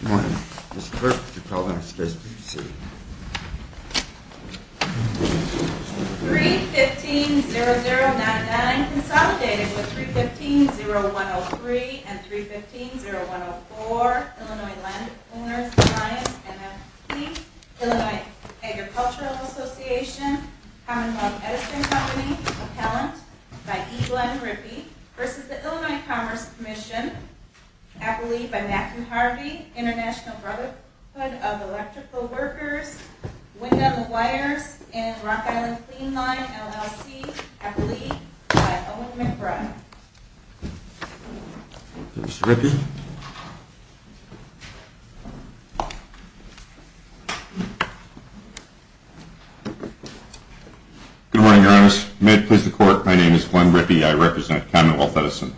Good morning. Mr. Burke to call the next business meeting. 3-15-0099, consolidated with 3-15-0103 and 3-15-0104, Illinois Landowners Alliance, MFP, Illinois Agricultural Association, Commonwealth Education Company, Appellant by E. Glenn Rippey v. Illinois Commerce Commission, Appellee by Matthew Harvey, International Brotherhood of Electrical Workers, Wind and Wires, and Rock Island Clean Line, LLC, Appellee by Owen McBride. Mr. Rippey. Good morning, Your Honors. May it please the Court, my name is Glenn Rippey. I represent Commonwealth Edison.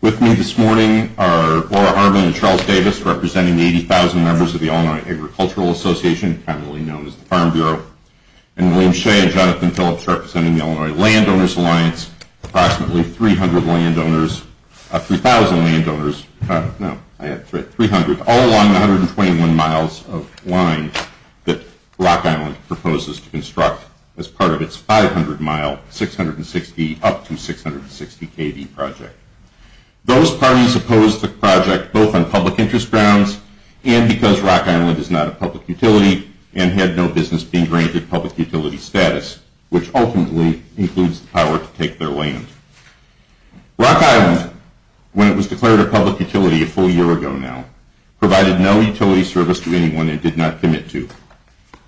With me this morning are Laura Harmon and Charles Davis, representing the 80,000 members of the Illinois Agricultural Association, commonly known as the Farm Bureau, and William Shea and Jonathan Phillips representing the Illinois Landowners Alliance, approximately 300 landowners, 3,000 landowners, no, I had 300, all along the 121 miles of line that Rock Island proposes to construct as part of its 500-mile, up to 660-kv project. Those parties opposed the project both on public interest grounds and because Rock Island is not a public utility and had no business being granted public utility status, which ultimately includes the power to take their land. Rock Island, when it was declared a public utility a full year ago now, provided no utility service to anyone it did not commit to.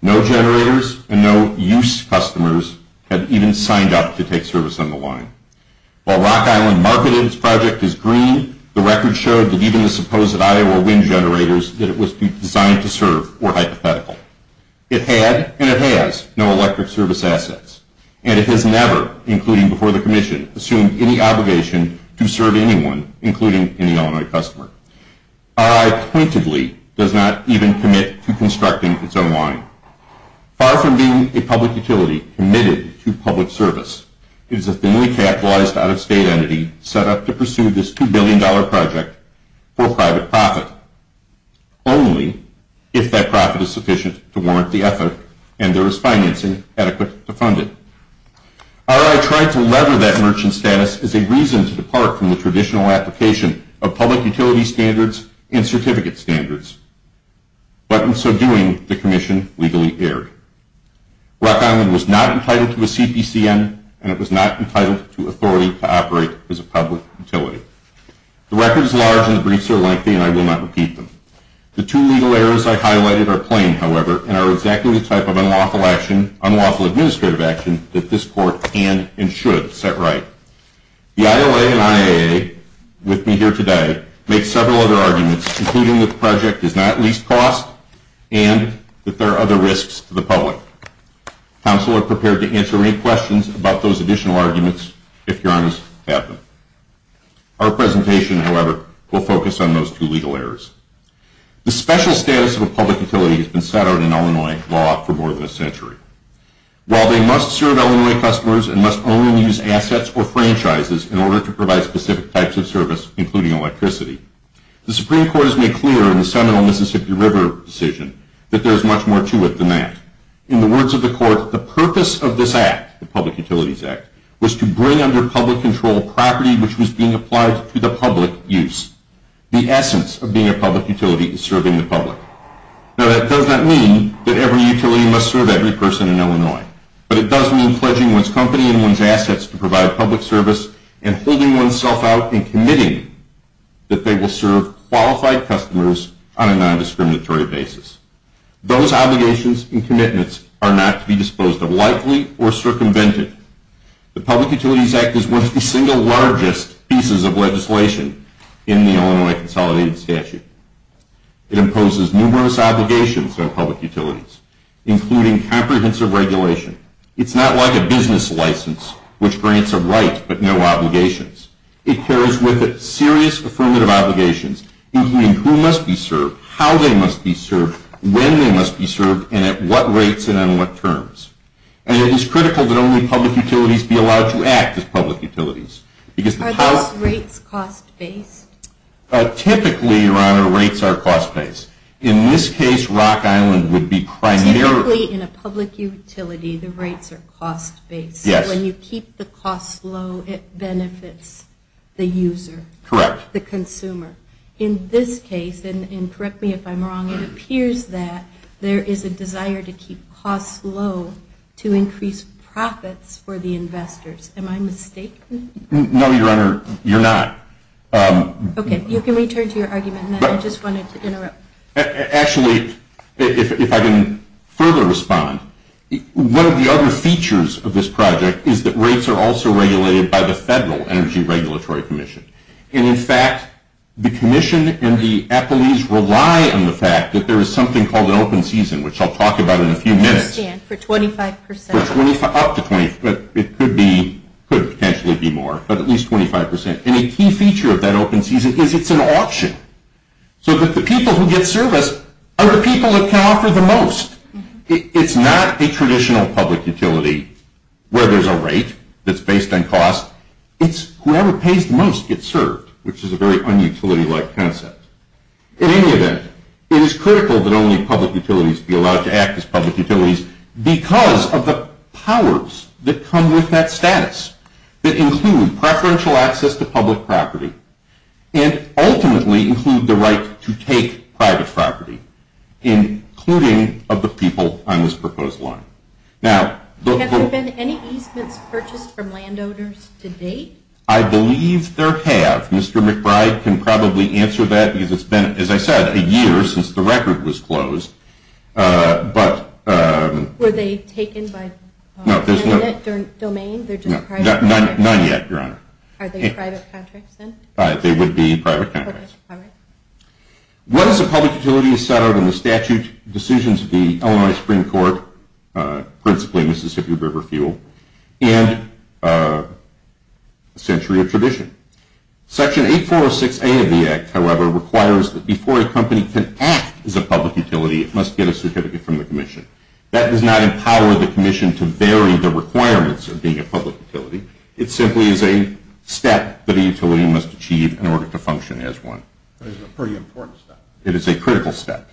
No generators and no use customers had even signed up to take service on the line. While Rock Island marketed its project as green, the record showed that even the supposed Iowa wind generators that it was designed to serve were hypothetical. It had, and it has, no electric service assets, and it has never, including before the Commission, assumed any obligation to serve anyone, including any Illinois customer. RI pointedly does not even commit to constructing its own line. Far from being a public utility committed to public service, it is a thinly capitalized out-of-state entity set up to pursue this $2 billion project for private profit, only if that profit is sufficient to warrant the effort and there is financing adequate to fund it. RI tried to lever that merchant status as a reason to depart from the traditional application of public utility standards and certificate standards, but in so doing, the Commission legally erred. Rock Island was not entitled to a CPCN, and it was not entitled to authority to operate as a public utility. The record is large and the briefs are lengthy, and I will not repeat them. The two legal errors I highlighted are plain, however, and are exactly the type of unlawful administrative action that this Court can and should set right. The ILA and IAA, with me here today, made several other arguments, including that the project is not leased cost and that there are other risks to the public. Council are prepared to answer any questions about those additional arguments if you are honest to have them. Our presentation, however, will focus on those two legal errors. The special status of a public utility has been set out in Illinois law for more than a century. While they must serve Illinois customers and must own and use assets or franchises in order to provide specific types of service, including electricity, the Supreme Court has made clear in the seminal Mississippi River decision that there is much more to it than that. In the words of the Court, the purpose of this act, the Public Utilities Act, was to bring under public control property which was being applied to the public use. The essence of being a public utility is serving the public. Now, that does not mean that every utility must serve every person in Illinois, but it does mean pledging one's company and one's assets to provide public service and holding oneself out and committing that they will serve qualified customers on a non-discriminatory basis. Those obligations and commitments are not to be disposed of lightly or circumvented. The Public Utilities Act is one of the single largest pieces of legislation in the Illinois Consolidated Statute. It imposes numerous obligations on public utilities, including comprehensive regulation. It's not like a business license which grants a right but no obligations. It carries with it serious affirmative obligations, including who must be served, how they must be served, when they must be served, and at what rates and on what terms. And it is critical that only public utilities be allowed to act as public utilities. Are those rates cost-based? Typically, Your Honor, rates are cost-based. In this case, Rock Island would be primarily... Typically, in a public utility, the rates are cost-based. Yes. When you keep the cost low, it benefits the user. Correct. The consumer. In this case, and correct me if I'm wrong, it appears that there is a desire to keep costs low to increase profits for the investors. Am I mistaken? No, Your Honor, you're not. Okay, you can return to your argument. I just wanted to interrupt. Actually, if I can further respond, one of the other features of this project is that rates are also regulated by the Federal Energy Regulatory Commission. And, in fact, the commission and the appellees rely on the fact that there is something called an open season, which I'll talk about in a few minutes. For 25%. Up to 25%. It could potentially be more, but at least 25%. And a key feature of that open season is it's an auction, so that the people who get service are the people that can offer the most. It's not a traditional public utility where there's a rate that's based on cost. It's whoever pays the most gets served, which is a very un-utility-like concept. In any event, it is critical that only public utilities be allowed to act as public utilities because of the powers that come with that status. They include preferential access to public property and, ultimately, include the right to take private property, including of the people on this proposed line. Now, the – Have there been any easements purchased from landowners to date? I believe there have. Mr. McBride can probably answer that because it's been, as I said, a year since the record was closed. But – Were they taken by – No, there's no – Is it their domain? They're just private – None yet, Your Honor. Are they private contracts, then? They would be private contracts. Okay, all right. Once a public utility is set out in the statute, decisions of the Illinois Supreme Court, principally Mississippi River Fuel, and Century of Tradition. Section 8406A of the Act, however, requires that before a company can act as a public utility, it must get a certificate from the commission. That does not empower the commission to vary the requirements of being a public utility. It simply is a step that a utility must achieve in order to function as one. That is a pretty important step. It is a critical step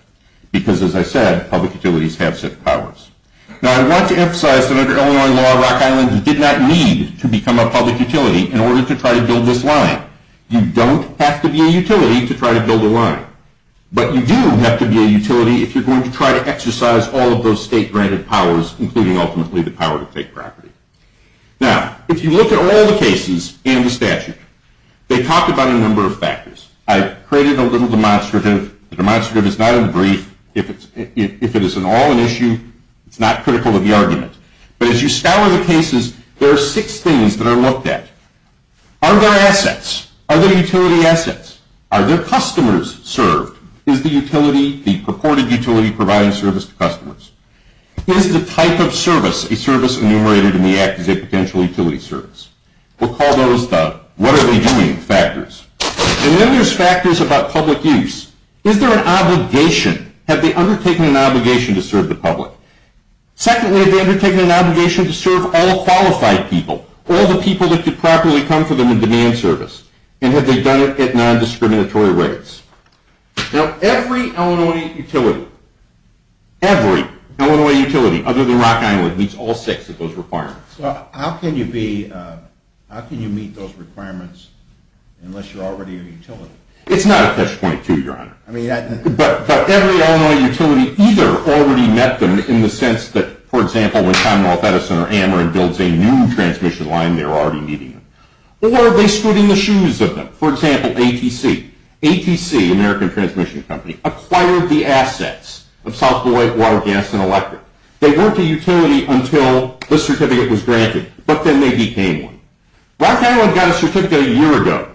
because, as I said, public utilities have set powers. Now, I want to emphasize that under Illinois law, Rock Island did not need to become a public utility in order to try to build this line. You don't have to be a utility to try to build a line. But you do have to be a utility if you're going to try to exercise all of those state-granted powers, including ultimately the power to take property. Now, if you look at all the cases in the statute, they talk about a number of factors. I've created a little demonstrative. The demonstrative is not a brief. If it is at all an issue, it's not critical of the argument. But as you scour the cases, there are six things that are looked at. Are there assets? Are there utility assets? Are there customers served? Is the utility, the purported utility, providing service to customers? Is the type of service, a service enumerated in the Act, is a potential utility service? We'll call those the what-are-they-doing factors. And then there's factors about public use. Is there an obligation? Have they undertaken an obligation to serve the public? Secondly, have they undertaken an obligation to serve all qualified people, all the people that could properly come to them and demand service? And have they done it at non-discriminatory rates? Now, every Illinois utility, every Illinois utility other than Rock Island meets all six of those requirements. So how can you meet those requirements unless you're already a utility? It's not a catch-22, Your Honor. But every Illinois utility either already met them in the sense that, for example, when Commonwealth Edison or Ameren builds a new transmission line, they're already meeting them. Or they stood in the shoes of them. For example, ATC. ATC, American Transmission Company, acquired the assets of South Beloit Water, Gas, and Electric. They weren't a utility until the certificate was granted. But then they became one. Rock Island got a certificate a year ago.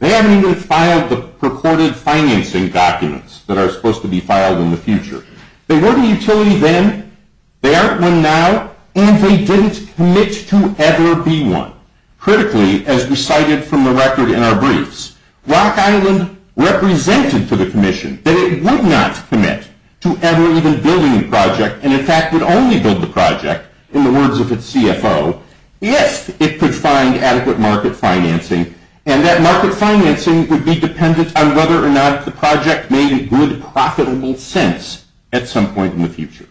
They haven't even filed the purported financing documents that are supposed to be filed in the future. They weren't a utility then. They aren't one now, and they didn't commit to ever be one. Critically, as we cited from the record in our briefs, Rock Island represented to the commission that it would not commit to ever even building a project, and, in fact, would only build the project in the words of its CFO if it could find adequate market financing. And that market financing would be dependent on whether or not the project made a good, profitable sense at some point in the future.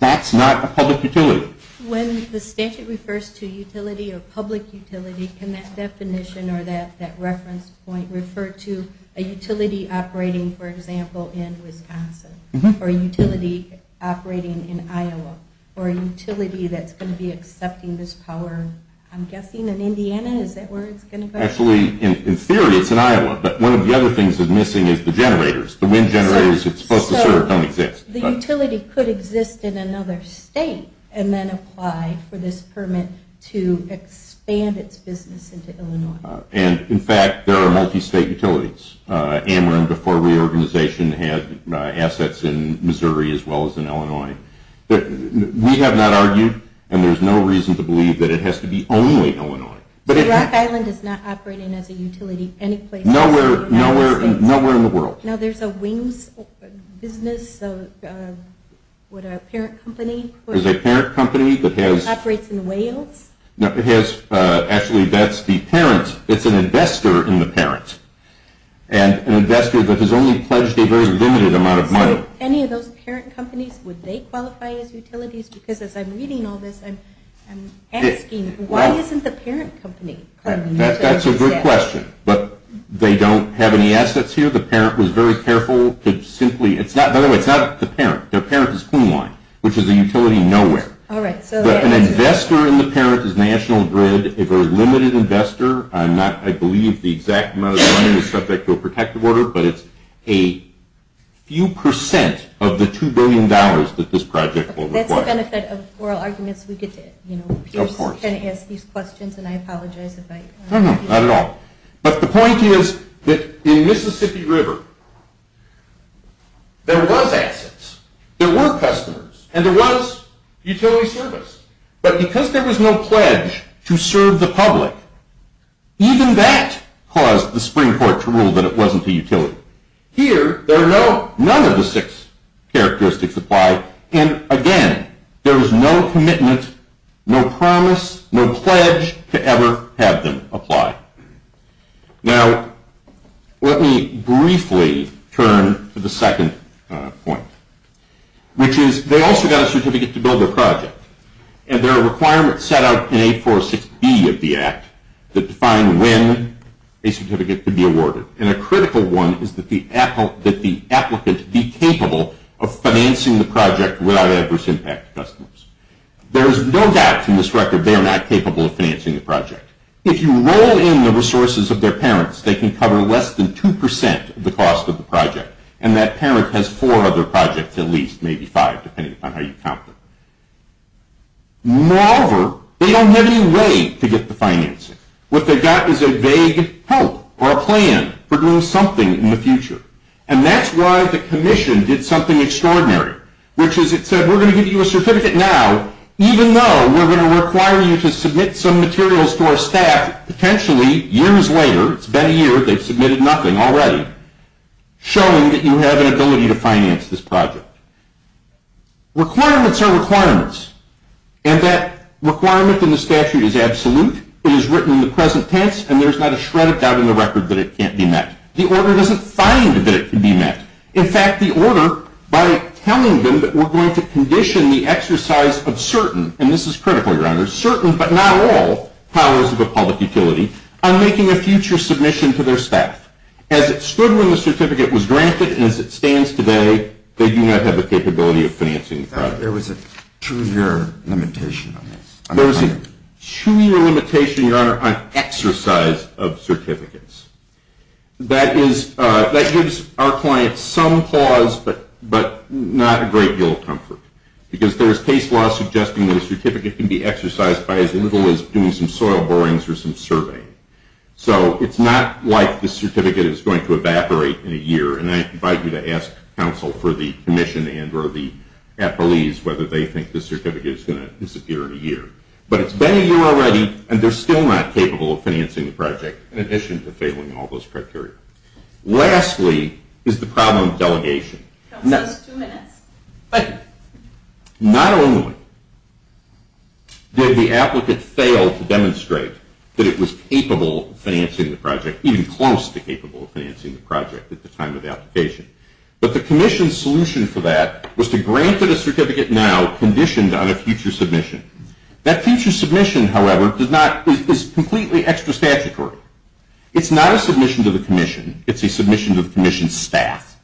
That's not a public utility. When the statute refers to utility or public utility, can that definition or that reference point refer to a utility operating, for example, in Wisconsin? Or a utility operating in Iowa? Or a utility that's going to be accepting this power, I'm guessing, in Indiana? Is that where it's going to go? Actually, in theory, it's in Iowa. But one of the other things that's missing is the generators, the wind generators it's supposed to serve don't exist. So the utility could exist in another state and then apply for this permit to expand its business into Illinois. And, in fact, there are multi-state utilities. Amrum, before reorganization, had assets in Missouri as well as in Illinois. We have not argued, and there's no reason to believe, that it has to be only Illinois. So Rock Island is not operating as a utility any place in the United States? Nowhere in the world. Now, there's a Wings business, what, a parent company? There's a parent company that has – That operates in Wales? No, it has – actually, that's the parent. It's an investor in the parent, an investor that has only pledged a very limited amount of money. Any of those parent companies, would they qualify as utilities? Because as I'm reading all this, I'm asking, why isn't the parent company? That's a good question. But they don't have any assets here. The parent was very careful to simply – it's not, by the way, it's not the parent. Their parent is Cleanline, which is a utility nowhere. But an investor in the parent is National Grid, a very limited investor. I'm not – I believe the exact amount of money is subject to a protective order, but it's a few percent of the $2 billion that this project will require. That's the benefit of oral arguments. We get to, you know, ask these questions, and I apologize if I – Not at all. But the point is that in Mississippi River, there was assets, there were customers, and there was utility service. But because there was no pledge to serve the public, even that caused the Supreme Court to rule that it wasn't a utility. Here, there are no – none of the six characteristics apply, and again, there was no commitment, no promise, no pledge to ever have them apply. Now, let me briefly turn to the second point, which is they also got a certificate to build their project, and there are requirements set out in 846B of the Act that define when a certificate could be awarded. And a critical one is that the applicant be capable of financing the project without adverse impact to customers. There is no doubt from this record they are not capable of financing the project. If you roll in the resources of their parents, they can cover less than 2% of the cost of the project, and that parent has four other projects at least, maybe five, depending on how you count them. Moreover, they don't have any way to get the financing. What they've got is a vague hope or a plan for doing something in the future, and that's why the commission did something extraordinary, which is it said, we're going to give you a certificate now, even though we're going to require you to submit some materials to our staff, potentially years later – it's been a year, they've submitted nothing already – showing that you have an ability to finance this project. Requirements are requirements, and that requirement in the statute is absolute. It is written in the present tense, and there's not a shred of doubt in the record that it can't be met. The order doesn't find that it can be met. In fact, the order, by telling them that we're going to condition the exercise of certain – and this is critical, Your Honor – certain, but not all, powers of a public utility, on making a future submission to their staff. As it stood when the certificate was granted, and as it stands today, they do not have the capability of financing the project. There was a two-year limitation on this. There was a two-year limitation, Your Honor, on exercise of certificates. That gives our clients some pause, but not a great deal of comfort, because there is case law suggesting that a certificate can be exercised by as little as doing some soil borings or some surveying. So it's not like the certificate is going to evaporate in a year, and I invite you to ask counsel for the commission and or the appellees whether they think the certificate is going to disappear in a year. But it's been a year already, and they're still not capable of financing the project, in addition to failing all those criteria. Lastly is the problem of delegation. Not only did the applicant fail to demonstrate that it was capable of financing the project, even close to capable of financing the project at the time of application, but the commission's solution for that was to grant it a certificate now conditioned on a future submission. That future submission, however, is completely extra statutory. It's not a submission to the commission. It's a submission to the commission's staff.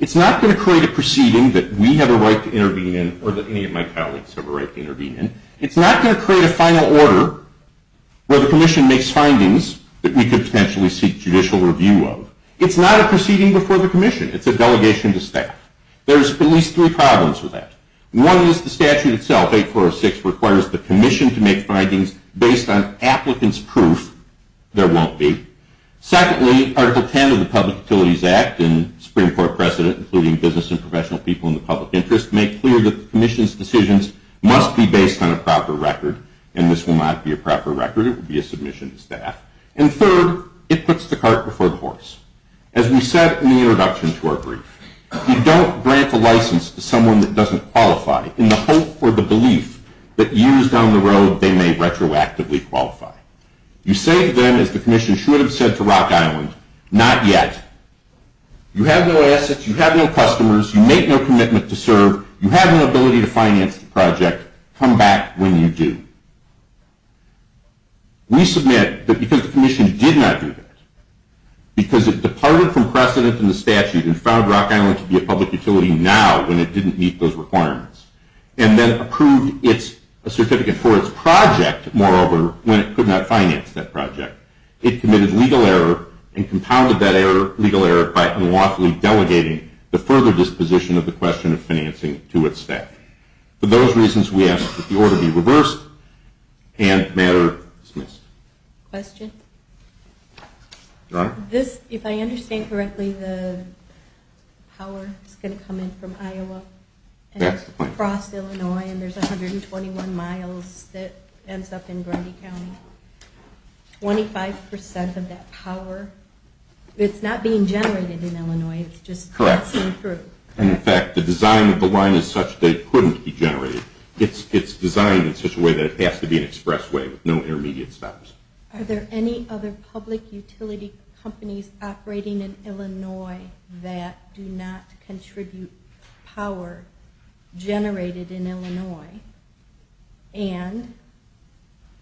It's not going to create a proceeding that we have a right to intervene in or that any of my colleagues have a right to intervene in. It's not going to create a final order where the commission makes findings that we could potentially seek judicial review of. It's not a proceeding before the commission. It's a delegation to staff. There's at least three problems with that. One is the statute itself, 8406, requires the commission to make findings based on applicant's proof. There won't be. Secondly, Article 10 of the Public Utilities Act and Supreme Court precedent, including business and professional people in the public interest, make clear that the commission's decisions must be based on a proper record, and this will not be a proper record. It will be a submission to staff. And third, it puts the cart before the horse. As we said in the introduction to our brief, you don't grant a license to someone that doesn't qualify in the hope or the belief that years down the road they may retroactively qualify. You say to them, as the commission should have said to Rock Island, not yet, you have no assets, you have no customers, you make no commitment to serve, you have no ability to finance the project, come back when you do. We submit that because the commission did not do that, because it departed from precedent in the statute and found Rock Island to be a public utility now, when it didn't meet those requirements, and then approved a certificate for its project, moreover, when it could not finance that project. It committed legal error and compounded that legal error by unlawfully delegating the further disposition of the question of financing to its staff. For those reasons, we ask that the order be reversed and matter dismissed. Question? Your Honor? If I understand correctly, the power is going to come in from Iowa? That's the point. Across Illinois, and there's 121 miles that ends up in Grundy County. Twenty-five percent of that power, it's not being generated in Illinois, it's just passing through. In fact, the design of the line is such that it couldn't be generated. It's designed in such a way that it has to be an expressway with no intermediate stops. Are there any other public utility companies operating in Illinois that do not contribute power generated in Illinois and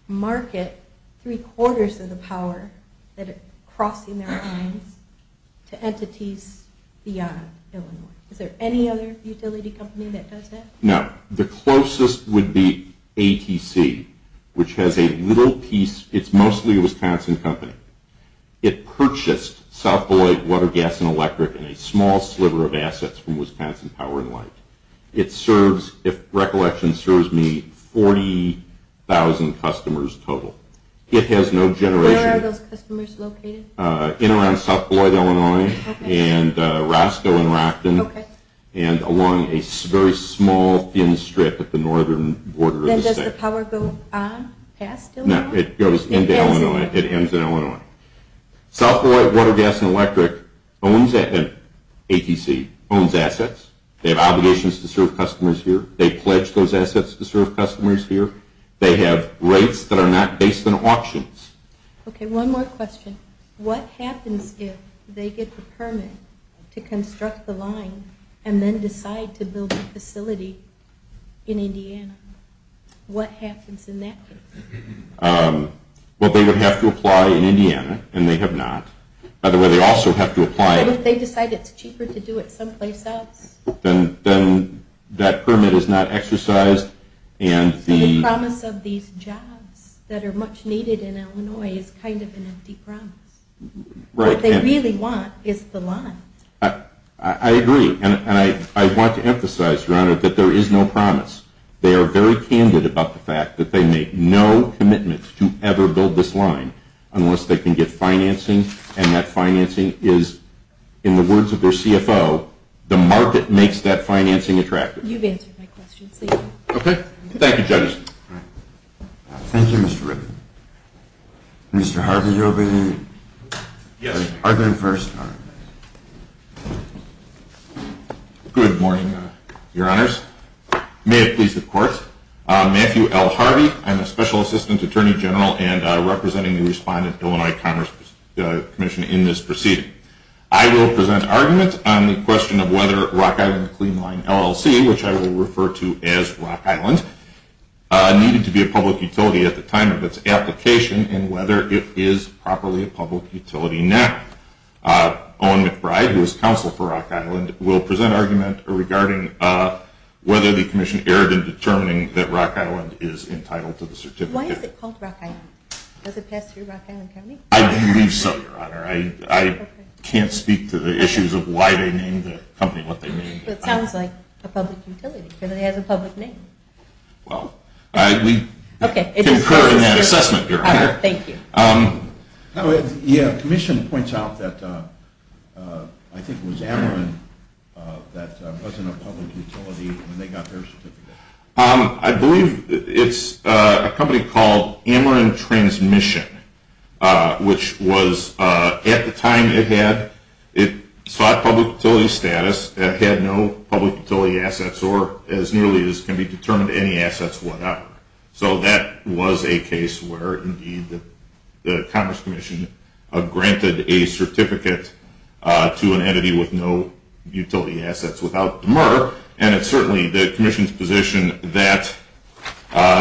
market three-quarters of the power that is crossing their lines to entities beyond Illinois? Is there any other utility company that does that? No. The closest would be ATC, which has a little piece. It's mostly a Wisconsin company. It purchased South Beloit Water, Gas, and Electric and a small sliver of assets from Wisconsin Power and Light. It serves, if recollection serves me, 40,000 customers total. It has no generation. Where are those customers located? In and around South Beloit, Illinois, and Roscoe and Rockton, and along a very small, thin strip at the northern border of the state. Then does the power go on past Illinois? No, it goes into Illinois. It ends in Illinois. South Beloit Water, Gas, and Electric, ATC, owns assets. They have obligations to serve customers here. They pledge those assets to serve customers here. They have rates that are not based on auctions. Okay, one more question. What happens if they get the permit to construct the line and then decide to build a facility in Indiana? What happens in that case? Well, they would have to apply in Indiana, and they have not. Either way, they also have to apply. But if they decide it's cheaper to do it someplace else? Then that permit is not exercised. The promise of these jobs that are much needed in Illinois is kind of an empty promise. What they really want is the line. I agree, and I want to emphasize, Your Honor, that there is no promise. They are very candid about the fact that they make no commitment to ever build this line unless they can get financing, and that financing is, in the words of their CFO, the market makes that financing attractive. You've answered my question, so you go. Okay. Thank you, Judge. Thank you, Mr. Rippin. Mr. Harvey, you'll be the first. Good morning, Your Honors. May it please the Court, Matthew L. Harvey. I'm a special assistant attorney general and representing the respondent Illinois Commerce Commission in this proceeding. I will present arguments on the question of whether Rock Island Clean Line LLC, which I will refer to as Rock Island, needed to be a public utility at the time of its application and whether it is properly a public utility now. Owen McBride, who is counsel for Rock Island, will present argument regarding whether the commission erred in determining that Rock Island is entitled to the certificate. Why is it called Rock Island? Does it pass through Rock Island Company? I believe so, Your Honor. I can't speak to the issues of why they named the company what they named it. But it sounds like a public utility because it has a public name. Well, we concur in that assessment, Your Honor. All right. Thank you. Yeah, the commission points out that I think it was Ameren that wasn't a public utility when they got their certificate. I believe it's a company called Ameren Transmission, which was at the time it sought public utility status. It had no public utility assets or, as nearly as can be determined, any assets, whatever. So that was a case where, indeed, the Congress Commission granted a certificate to an entity with no utility assets without demur. And it's certainly the commission's position that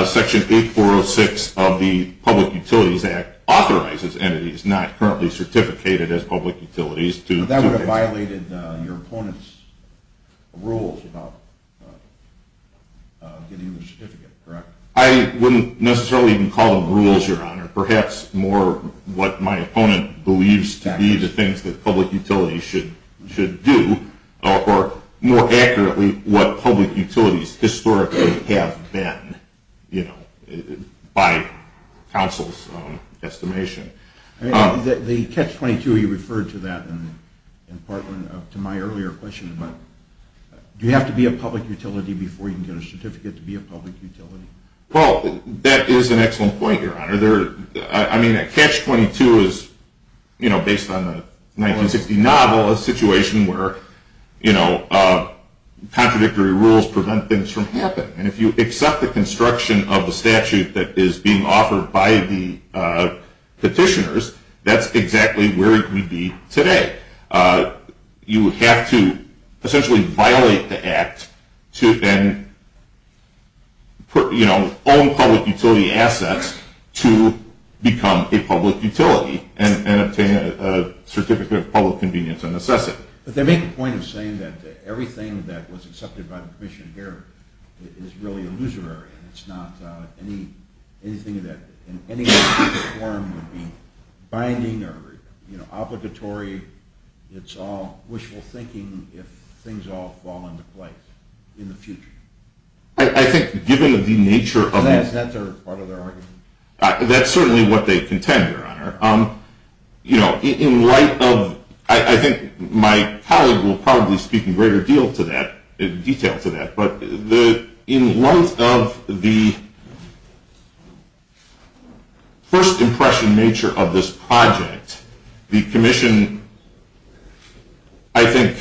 Section 8406 of the Public Utilities Act authorizes entities not currently certificated as public utilities. But that would have violated your opponent's rules about getting the certificate, correct? I wouldn't necessarily even call them rules, Your Honor. Perhaps more what my opponent believes to be the things that public utilities should do, or more accurately, what public utilities historically have been by counsel's estimation. The Catch-22, you referred to that in part to my earlier question. Do you have to be a public utility before you can get a certificate to be a public utility? Well, that is an excellent point, Your Honor. I mean, a Catch-22 is, based on the 1960 novel, a situation where contradictory rules prevent things from happening. And if you accept the construction of the statute that is being offered by the petitioners, that's exactly where it would be today. You would have to essentially violate the act to then own public utility assets to become a public utility and obtain a certificate of public convenience and assess it. But they make a point of saying that everything that was accepted by the commission here is really illusory, and it's not anything that in any way, shape, or form would be binding or obligatory. It's all wishful thinking if things all fall into place in the future. I think given the nature of the— Is that part of their argument? That's certainly what they contend, Your Honor. In light of—I think my colleague will probably speak in greater detail to that. But in light of the first impression nature of this project, the commission, I think,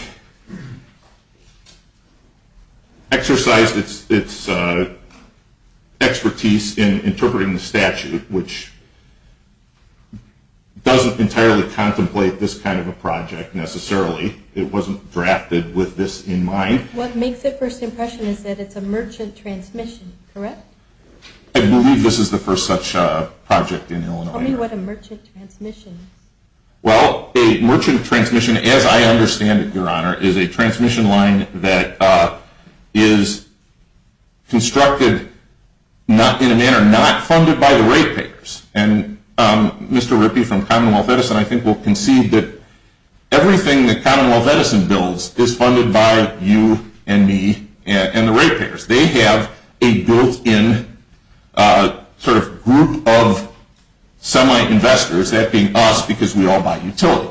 exercised its expertise in interpreting the statute, which doesn't entirely contemplate this kind of a project necessarily. It wasn't drafted with this in mind. What makes the first impression is that it's a merchant transmission, correct? I believe this is the first such project in Illinois. Tell me what a merchant transmission is. Well, a merchant transmission, as I understand it, Your Honor, is a transmission line that is constructed in a manner not funded by the ratepayers. And Mr. Rippey from Commonwealth Edison, I think, will concede that everything that Commonwealth Edison builds is funded by you and me and the ratepayers. They have a built-in sort of group of semi-investors, that being us because we all buy utility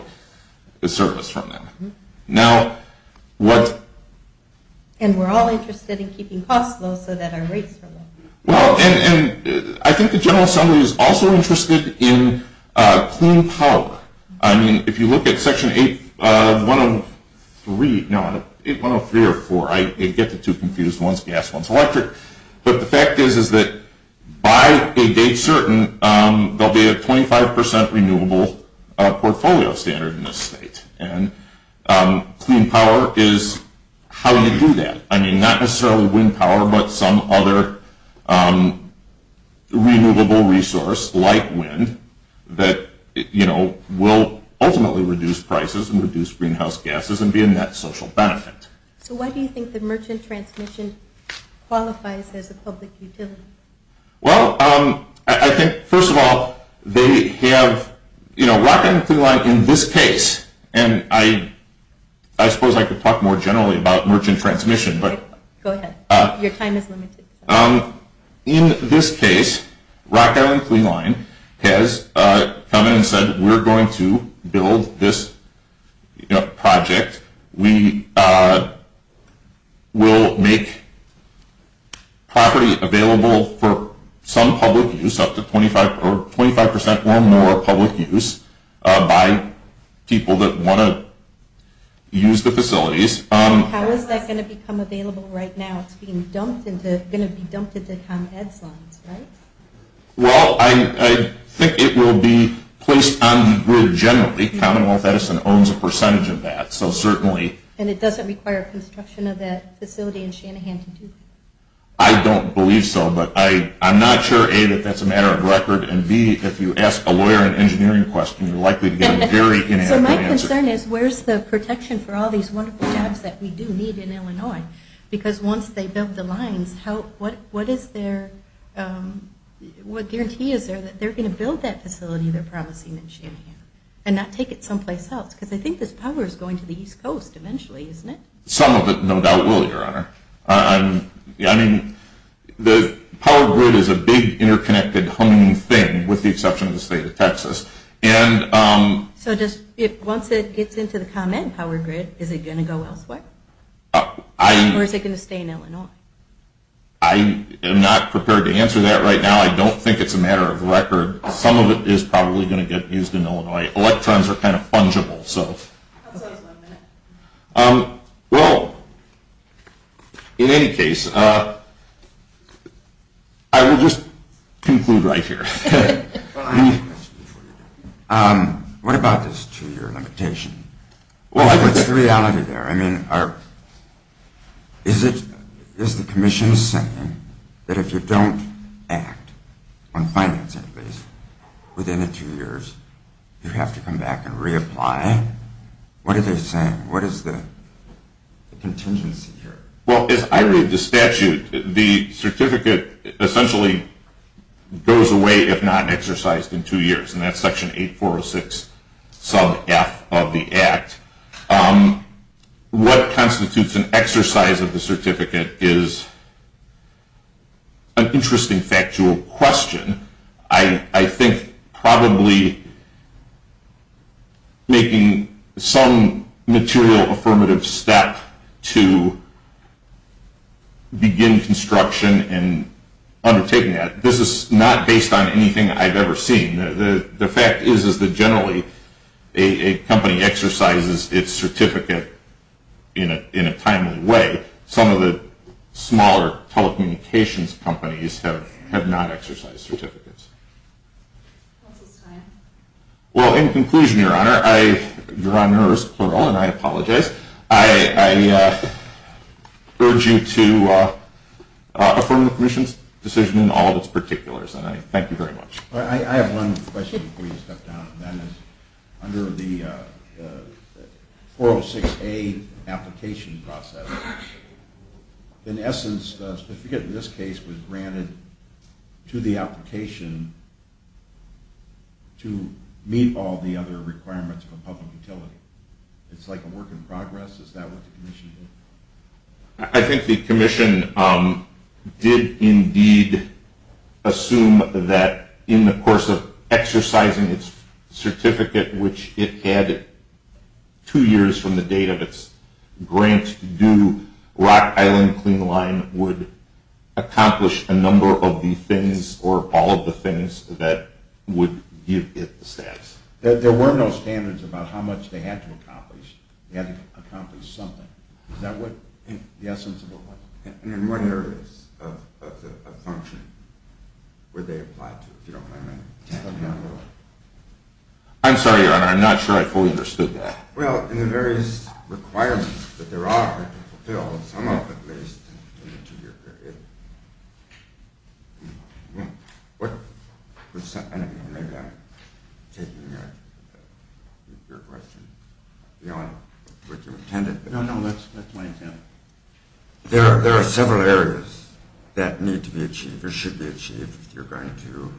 service from them. Now, what— And we're all interested in keeping costs low so that our rates are low. Well, and I think the General Assembly is also interested in clean power. I mean, if you look at Section 803—no, 803 or 804, I get the two confused. One's gas, one's electric. But the fact is that by a date certain, there will be a 25 percent renewable portfolio standard in this state. And clean power is how you do that. I mean, not necessarily wind power, but some other renewable resource like wind that will ultimately reduce prices and reduce greenhouse gases and be a net social benefit. So why do you think the merchant transmission qualifies as a public utility? Well, I think, first of all, they have— You know, Rock Island Clean Line, in this case, and I suppose I could talk more generally about merchant transmission, but— Go ahead. Your time is limited. In this case, Rock Island Clean Line has come in and said, we're going to build this project. We will make property available for some public use, up to 25 percent or more public use by people that want to use the facilities. How is that going to become available right now? It's being dumped into—going to be dumped into ComEd funds, right? Well, I think it will be placed on the grid generally. Commonwealth Edison owns a percentage of that, so certainly— And it doesn't require construction of that facility in Shanahan to do that? I don't believe so, but I'm not sure, A, that that's a matter of record, and, B, if you ask a lawyer an engineering question, you're likely to get a very inaccurate answer. So my concern is, where's the protection for all these wonderful jobs that we do need in Illinois? Because once they build the lines, what is their— what guarantee is there that they're going to build that facility they're promising in Shanahan and not take it someplace else? Because I think this power is going to the East Coast eventually, isn't it? Some of it no doubt will, Your Honor. I mean, the power grid is a big, interconnected, humming thing, with the exception of the state of Texas. So once it gets into the ComEd power grid, is it going to go elsewhere? Or is it going to stay in Illinois? I am not prepared to answer that right now. I don't think it's a matter of record. Some of it is probably going to get used in Illinois. Electrons are kind of fungible, so— That's why it's one minute. Well, in any case, I will just conclude right here. Well, I have a question for you. What about this two-year limitation? What's the reality there? I mean, is the Commission saying that if you don't act on financing fees within the two years, you have to come back and reapply? What are they saying? What is the contingency here? Well, as I read the statute, the certificate essentially goes away if not exercised in two years, and that's Section 8406 sub F of the Act. What constitutes an exercise of the certificate is an interesting factual question. I think probably making some material affirmative step to begin construction and undertaking that. This is not based on anything I've ever seen. The fact is that generally a company exercises its certificate in a timely way. Some of the smaller telecommunications companies have not exercised certificates. Well, in conclusion, Your Honor, I—Your Honor is plural, and I apologize. I urge you to affirm the Commission's decision in all of its particulars, and I thank you very much. I have one question before you step down, and that is under the 406A application process, in essence, the certificate in this case was granted to the application to meet all the other requirements for public utility. It's like a work in progress. Is that what the Commission did? I think the Commission did indeed assume that in the course of exercising its certificate, which it had two years from the date of its grant due, Rock Island Clean Line would accomplish a number of the things or all of the things that would give it the status. There were no standards about how much they had to accomplish. They had to accomplish something. Is that what the essence of it was? And in what areas of function were they applied to, if you don't mind my asking? I'm sorry, Your Honor, I'm not sure I fully understood that. Well, in the various requirements that there are to fulfill, some of them, at least, in the two-year period. I don't know, maybe I'm taking your question beyond what you intended. No, no, that's my intent. There are several areas that need to be achieved or should be achieved if you're going to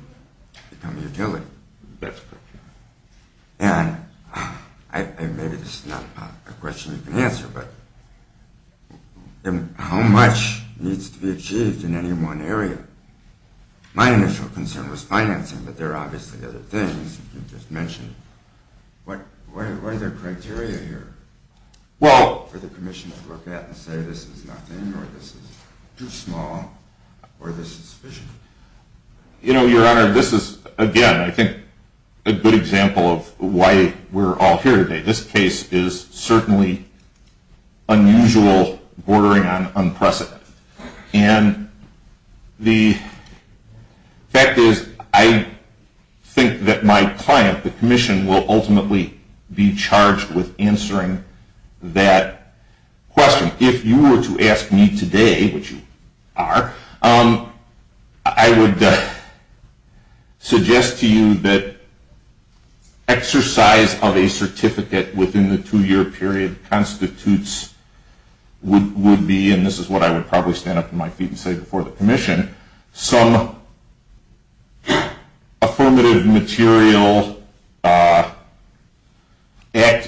become a utility. And maybe this is not a question you can answer, but how much needs to be achieved in any one area? My initial concern was financing, but there are obviously other things you just mentioned. What are the criteria here for the Commission to look at and say this is nothing or this is too small or this is sufficient? You know, Your Honor, this is, again, I think a good example of why we're all here today. This case is certainly unusual, bordering on unprecedented. And the fact is I think that my client, the Commission, will ultimately be charged with answering that question. If you were to ask me today, which you are, I would suggest to you that exercise of a certificate within the two-year period constitutes, would be, and this is what I would probably stand up on my feet and say before the Commission, some affirmative material act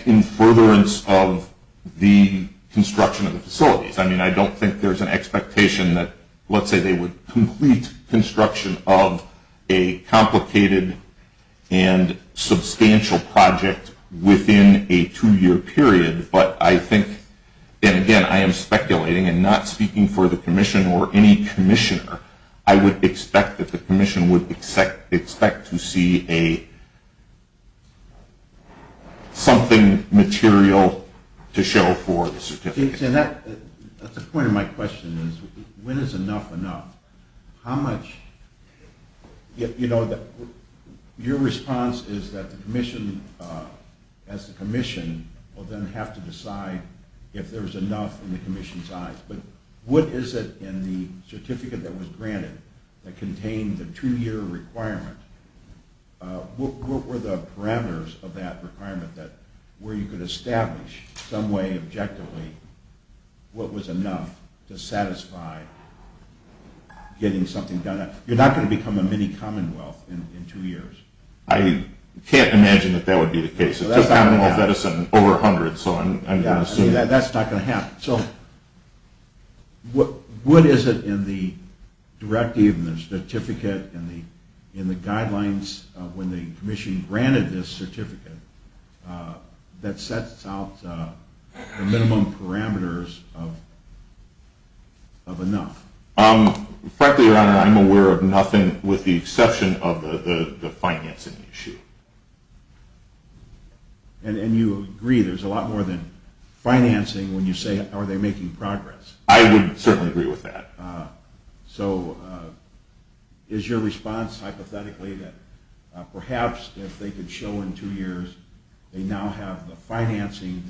in furtherance of the construction of the facilities. I mean, I don't think there's an expectation that, let's say, they would complete construction of a complicated and substantial project within a two-year period. But I think, and again, I am speculating and not speaking for the Commission or any commissioner, I would expect that the Commission would expect to see something material to show for the certificate. That's the point of my question is when is enough enough? Your response is that the Commission, as the Commission, will then have to decide if there's enough in the Commission's eyes. But what is it in the certificate that was granted that contained the two-year requirement? What were the parameters of that requirement where you could establish some way objectively what was enough to satisfy getting something done? You're not going to become a mini-Commonwealth in two years. I can't imagine that that would be the case. It's just Commonwealth Edison over 100. That's not going to happen. So what is it in the directive and the certificate and the guidelines when the Commission granted this certificate that sets out the minimum parameters of enough? Frankly, Your Honor, I'm aware of nothing with the exception of the financing issue. And you agree there's a lot more than financing when you say are they making progress? I would certainly agree with that. So is your response hypothetically that perhaps if they could show in two years they now have the financing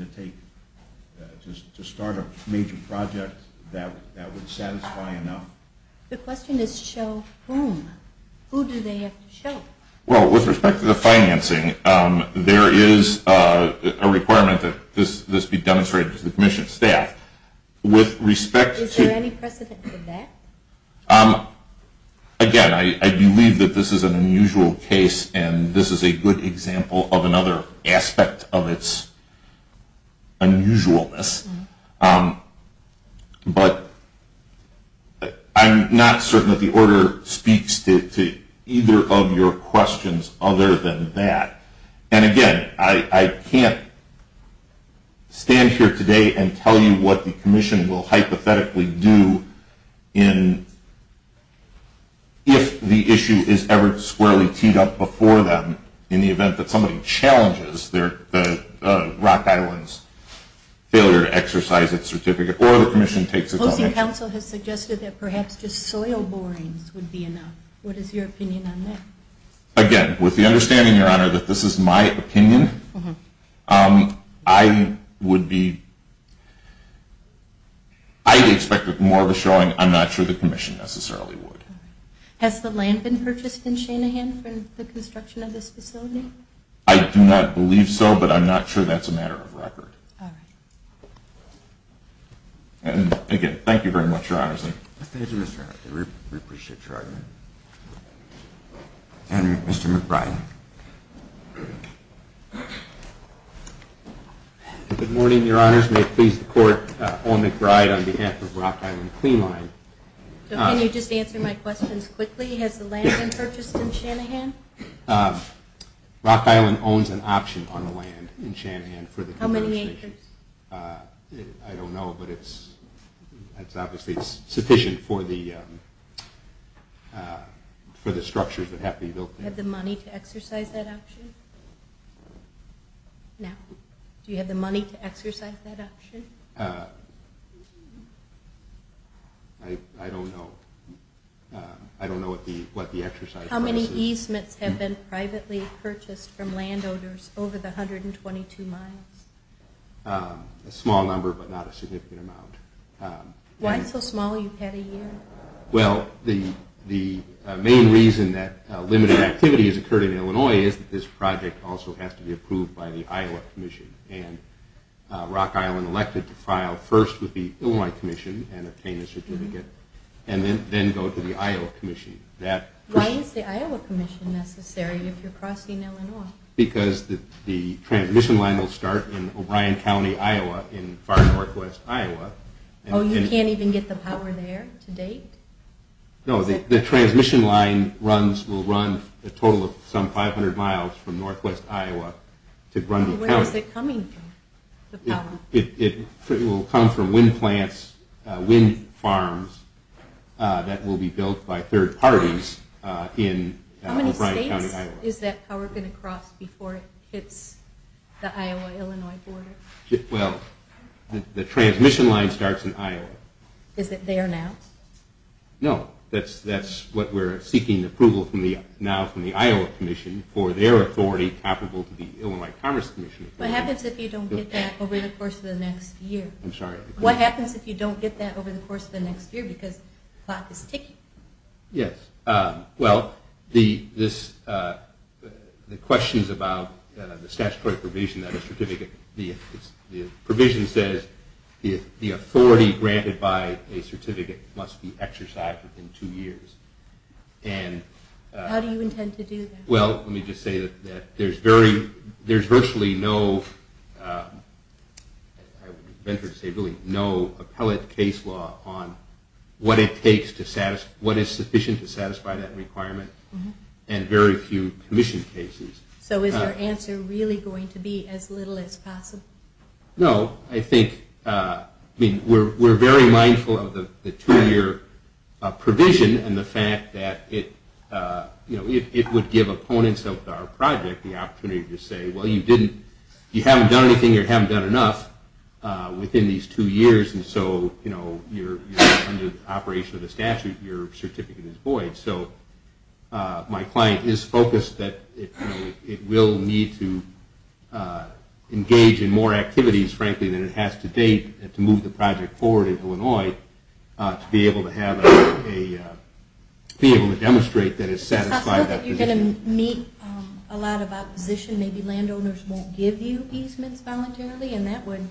to start a major project that would satisfy enough? The question is show whom? Who do they have to show? Well, with respect to the financing, there is a requirement that this be demonstrated to the Commission staff. Is there any precedent for that? Again, I believe that this is an unusual case, and this is a good example of another aspect of its unusualness. But I'm not certain that the order speaks to either of your questions other than that. And again, I can't stand here today and tell you what the Commission will hypothetically do if the issue is ever squarely teed up before them in the event that somebody challenges the Rock Island's failure to exercise its certificate or the Commission takes its own action. Housing Council has suggested that perhaps just soil borings would be enough. What is your opinion on that? Again, with the understanding, Your Honor, that this is my opinion, I would expect more of a showing. I'm not sure the Commission necessarily would. Has the land been purchased in Shanahan for the construction of this facility? I do not believe so, but I'm not sure that's a matter of record. All right. And again, thank you very much, Your Honor. Thank you, Mr. Arnott. We appreciate your argument. And Mr. McBride. Good morning, Your Honors. May it please the Court, Owen McBride on behalf of Rock Island Cleanline. Can you just answer my questions quickly? Has the land been purchased in Shanahan? Rock Island owns an option on the land in Shanahan for the construction. How many acres? I don't know, but it's obviously sufficient for the structures that have to be built there. Do you have the money to exercise that option? Now, do you have the money to exercise that option? I don't know. How many easements have been privately purchased from landowners over the 122 miles? A small number, but not a significant amount. Why so small? You've had a year. Well, the main reason that limited activity has occurred in Illinois is that this project also has to be approved by the Iowa Commission. And Rock Island elected to file first with the Illinois Commission and obtain a certificate and then go to the Iowa Commission. Why is the Iowa Commission necessary if you're crossing Illinois? Because the transmission line will start in O'Brien County, Iowa, in far northwest Iowa. Oh, you can't even get the power there to date? No, the transmission line will run a total of some 500 miles from northwest Iowa to Grundy County. Where is it coming from, the power? It will come from wind plants, wind farms that will be built by third parties in O'Brien County, Iowa. How many states is that power going to cross before it hits the Iowa-Illinois border? Well, the transmission line starts in Iowa. Is it there now? No, that's what we're seeking approval from now from the Iowa Commission for their authority comparable to the Illinois Commerce Commission. What happens if you don't get that over the course of the next year? I'm sorry? What happens if you don't get that over the course of the next year because the clock is ticking? Yes. Well, the question is about the statutory provision that a certificate, the provision says the authority granted by a certificate must be exercised within two years. How do you intend to do that? Well, let me just say that there's virtually no, I would venture to say, really no appellate case law on what it takes to satisfy, what is sufficient to satisfy that requirement and very few commission cases. So is your answer really going to be as little as possible? No, I think we're very mindful of the two-year provision and the fact that it would give opponents of our project the opportunity to say, well, you haven't done anything or you haven't done enough within these two years and so under the operation of the statute your certificate is void. So my client is focused that it will need to engage in more activities, frankly, than it has to date to move the project forward in Illinois to be able to have a, be able to demonstrate that it's satisfied that position. I feel that you're going to meet a lot of opposition. Maybe landowners won't give you easements voluntarily and that would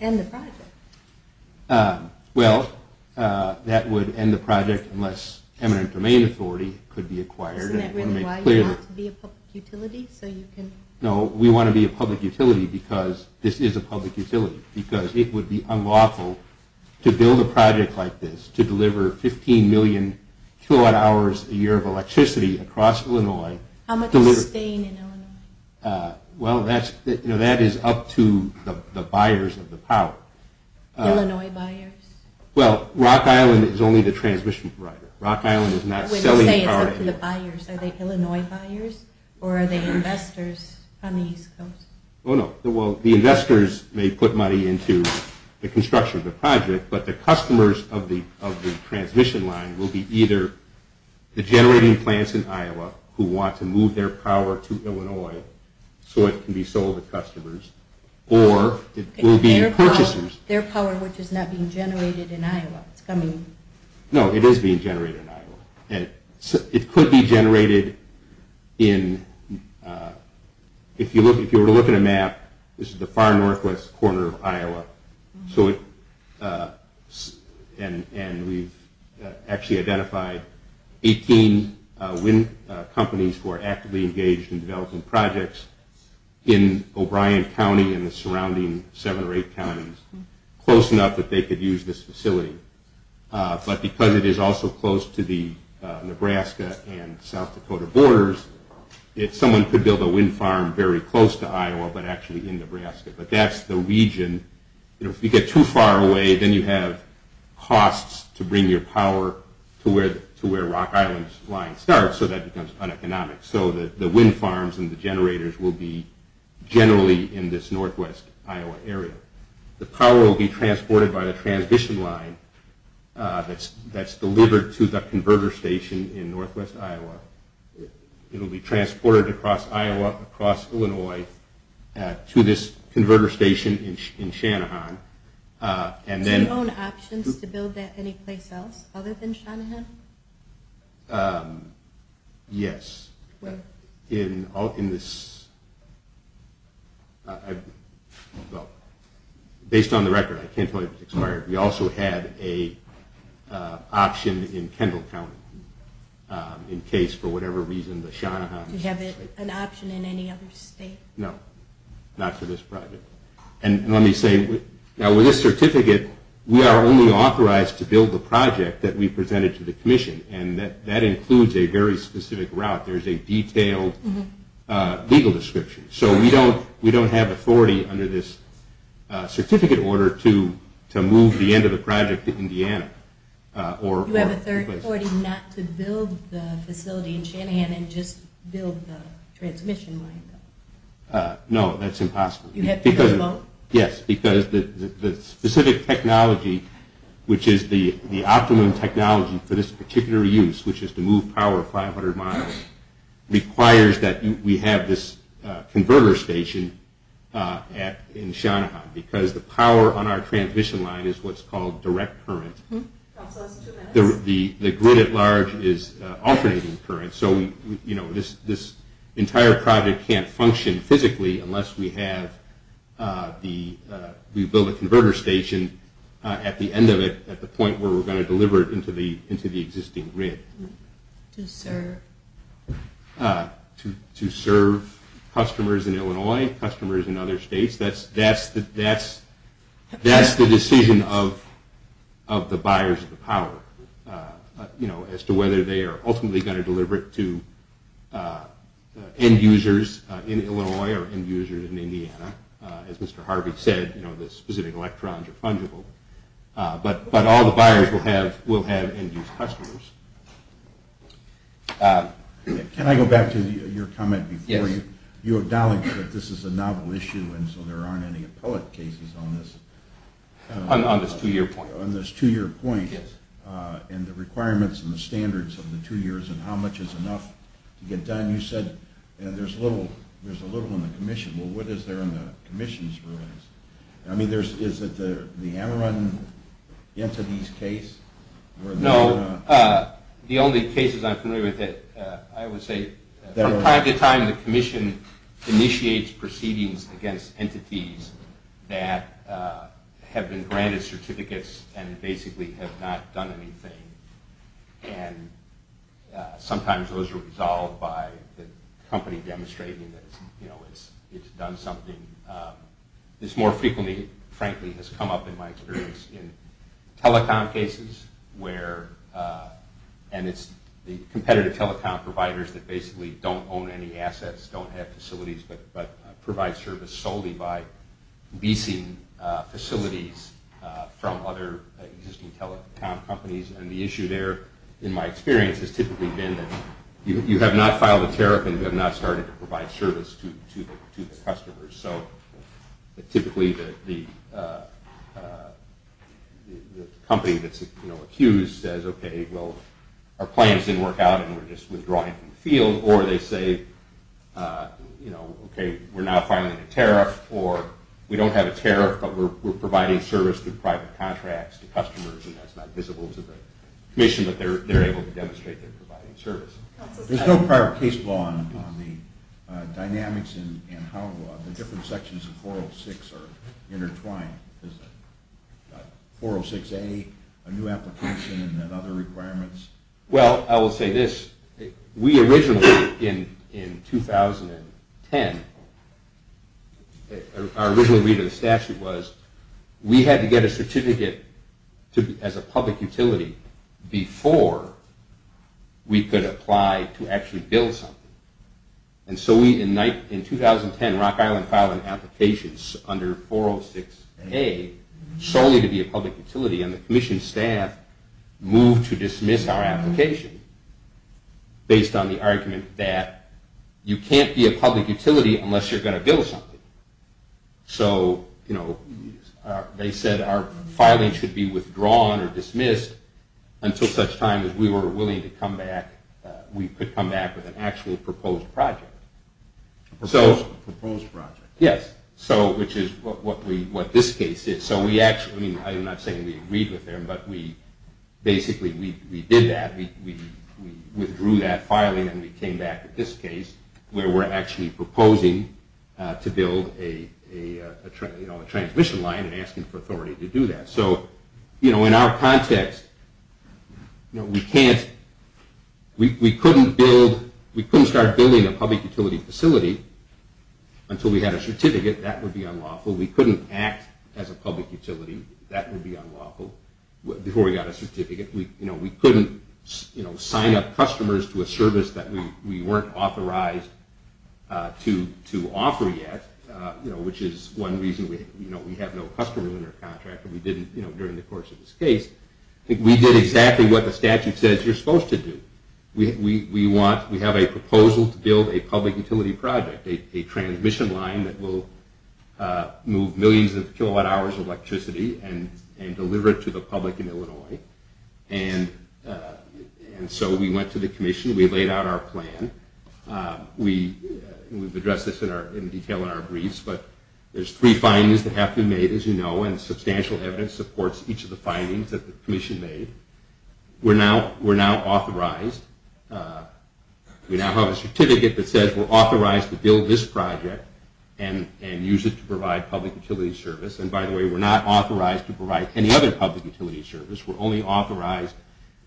end the project. Well, that would end the project unless eminent domain authority could be acquired. Isn't that really why you want to be a public utility so you can? No, we want to be a public utility because this is a public utility, because it would be unlawful to build a project like this, to deliver 15 million kilowatt hours a year of electricity across Illinois. How much is staying in Illinois? Well, that is up to the buyers of the power. Illinois buyers? Well, Rock Island is only the transmission provider. Rock Island is not selling the power. Are they Illinois buyers or are they investors on the East Coast? Oh, no. Well, the investors may put money into the construction of the project, but the customers of the transmission line will be either the generating plants in Iowa who want to move their power to Illinois so it can be sold to customers, or it will be purchasers. Their power, which is not being generated in Iowa. No, it is being generated in Iowa. It could be generated in, if you were to look at a map, this is the far northwest corner of Iowa, and we've actually identified 18 wind companies who are actively engaged in developing projects in O'Brien County and the surrounding seven or eight counties, close enough that they could use this facility. But because it is also close to the Nebraska and South Dakota borders, someone could build a wind farm very close to Iowa but actually in Nebraska. But that's the region. If you get too far away, then you have costs to bring your power to where Rock Island's line starts, so that becomes uneconomic. So the wind farms and the generators will be generally in this northwest Iowa area. The power will be transported by the transmission line that's delivered to the converter station in northwest Iowa. It will be transported across Iowa, across Illinois, to this converter station in Shanahan. Do you own options to build that anyplace else other than Shanahan? Yes. Based on the record, I can't tell you if it's expired, we also had an option in Kendall County in case for whatever reason the Shanahan... Do you have an option in any other state? No, not for this project. Now with this certificate, we are only authorized to build the project that we presented to the commission, and that includes a very specific route. There's a detailed legal description. So we don't have authority under this certificate order to move the end of the project to Indiana. Do you have authority not to build the facility in Shanahan and just build the transmission line? No, that's impossible. You have to go vote? Yes, because the specific technology, which is the optimum technology for this particular use, which is to move power 500 miles, requires that we have this converter station in Shanahan because the power on our transmission line is what's called direct current. The grid at large is alternating current, so this entire project can't function physically unless we build a converter station at the end of it at the point where we're going to deliver it into the existing grid. To serve? To serve customers in Illinois, customers in other states. That's the decision of the buyers of the power as to whether they are ultimately going to deliver it to end users in Illinois or end users in Indiana. As Mr. Harvey said, the specific electrons are fungible, but all the buyers will have end-use customers. Can I go back to your comment before you? Yes. You acknowledged that this is a novel issue and so there aren't any appellate cases on this. On this two-year point. On this two-year point. Yes. And the requirements and the standards of the two years and how much is enough to get done. You said there's a little in the commission. Well, what is there in the commission's rulings? I mean, is it the Amaran entity's case? No. The only cases I'm familiar with that I would say from time to time the commission initiates proceedings against entities that have been granted certificates and basically have not done anything. And sometimes those are resolved by the company demonstrating that it's done something. This more frequently, frankly, has come up in my experience in telecom cases and it's the competitive telecom providers that basically don't own any assets, don't have facilities, but provide service solely by leasing facilities from other existing telecom companies. And the issue there, in my experience, has typically been that you have not filed a tariff and have not started to provide service to the customers. So typically the company that's accused says, okay, well, our plans didn't work out and we're just withdrawing from the field. Or they say, you know, okay, we're now filing a tariff or we don't have a tariff but we're providing service through private contracts to customers and that's not visible to the commission, but they're able to demonstrate they're providing service. There's no prior case law on the dynamics and how the different sections of 406 are intertwined. Is that 406A a new application and then other requirements? Well, I will say this. We originally, in 2010, our original read of the statute was we had to get a certificate as a public utility before we could apply to actually build something. And so we, in 2010, Rock Island filed an application under 406A solely to be a public utility and the commission staff moved to dismiss our application based on the argument that you can't be a public utility unless you're going to build something. So, you know, they said our filing should be withdrawn or dismissed until such time as we were willing to come back, we could come back with an actual proposed project. A proposed project. Yes, so which is what this case is. So we actually, I'm not saying we agreed with them, but we basically, we did that. We withdrew that filing and we came back with this case where we're actually proposing to build a transmission line and asking for authority to do that. So, you know, in our context, we can't, we couldn't build, we couldn't start building a public utility facility until we had a certificate. That would be unlawful. We couldn't act as a public utility. We couldn't sign up customers to a service that we weren't authorized to offer yet, which is one reason we have no customers in our contract. We didn't during the course of this case. We did exactly what the statute says you're supposed to do. We have a proposal to build a public utility project, a transmission line that will move millions of kilowatt hours of electricity and deliver it to the public in Illinois. And so we went to the commission. We laid out our plan. We've addressed this in detail in our briefs, but there's three findings that have been made, as you know, and substantial evidence supports each of the findings that the commission made. We're now authorized. We now have a certificate that says we're authorized to build this project and use it to provide public utility service. And, by the way, we're not authorized to provide any other public utility service. We're only authorized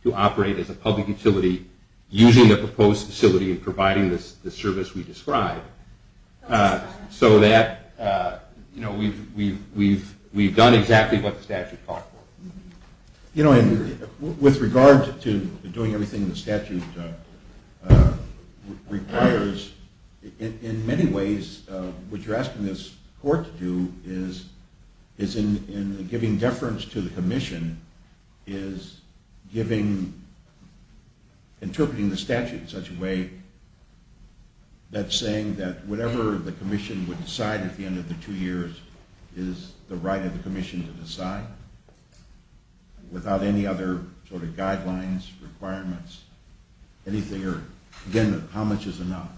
to operate as a public utility using the proposed facility and providing the service we described so that we've done exactly what the statute called for. You know, with regard to doing everything the statute requires, in many ways, what you're asking this court to do is, in giving deference to the commission, is interpreting the statute in such a way that's saying that whatever the commission would decide at the end of the two years is the right of the commission to decide without any other sort of guidelines, requirements, anything or, again, how much is enough?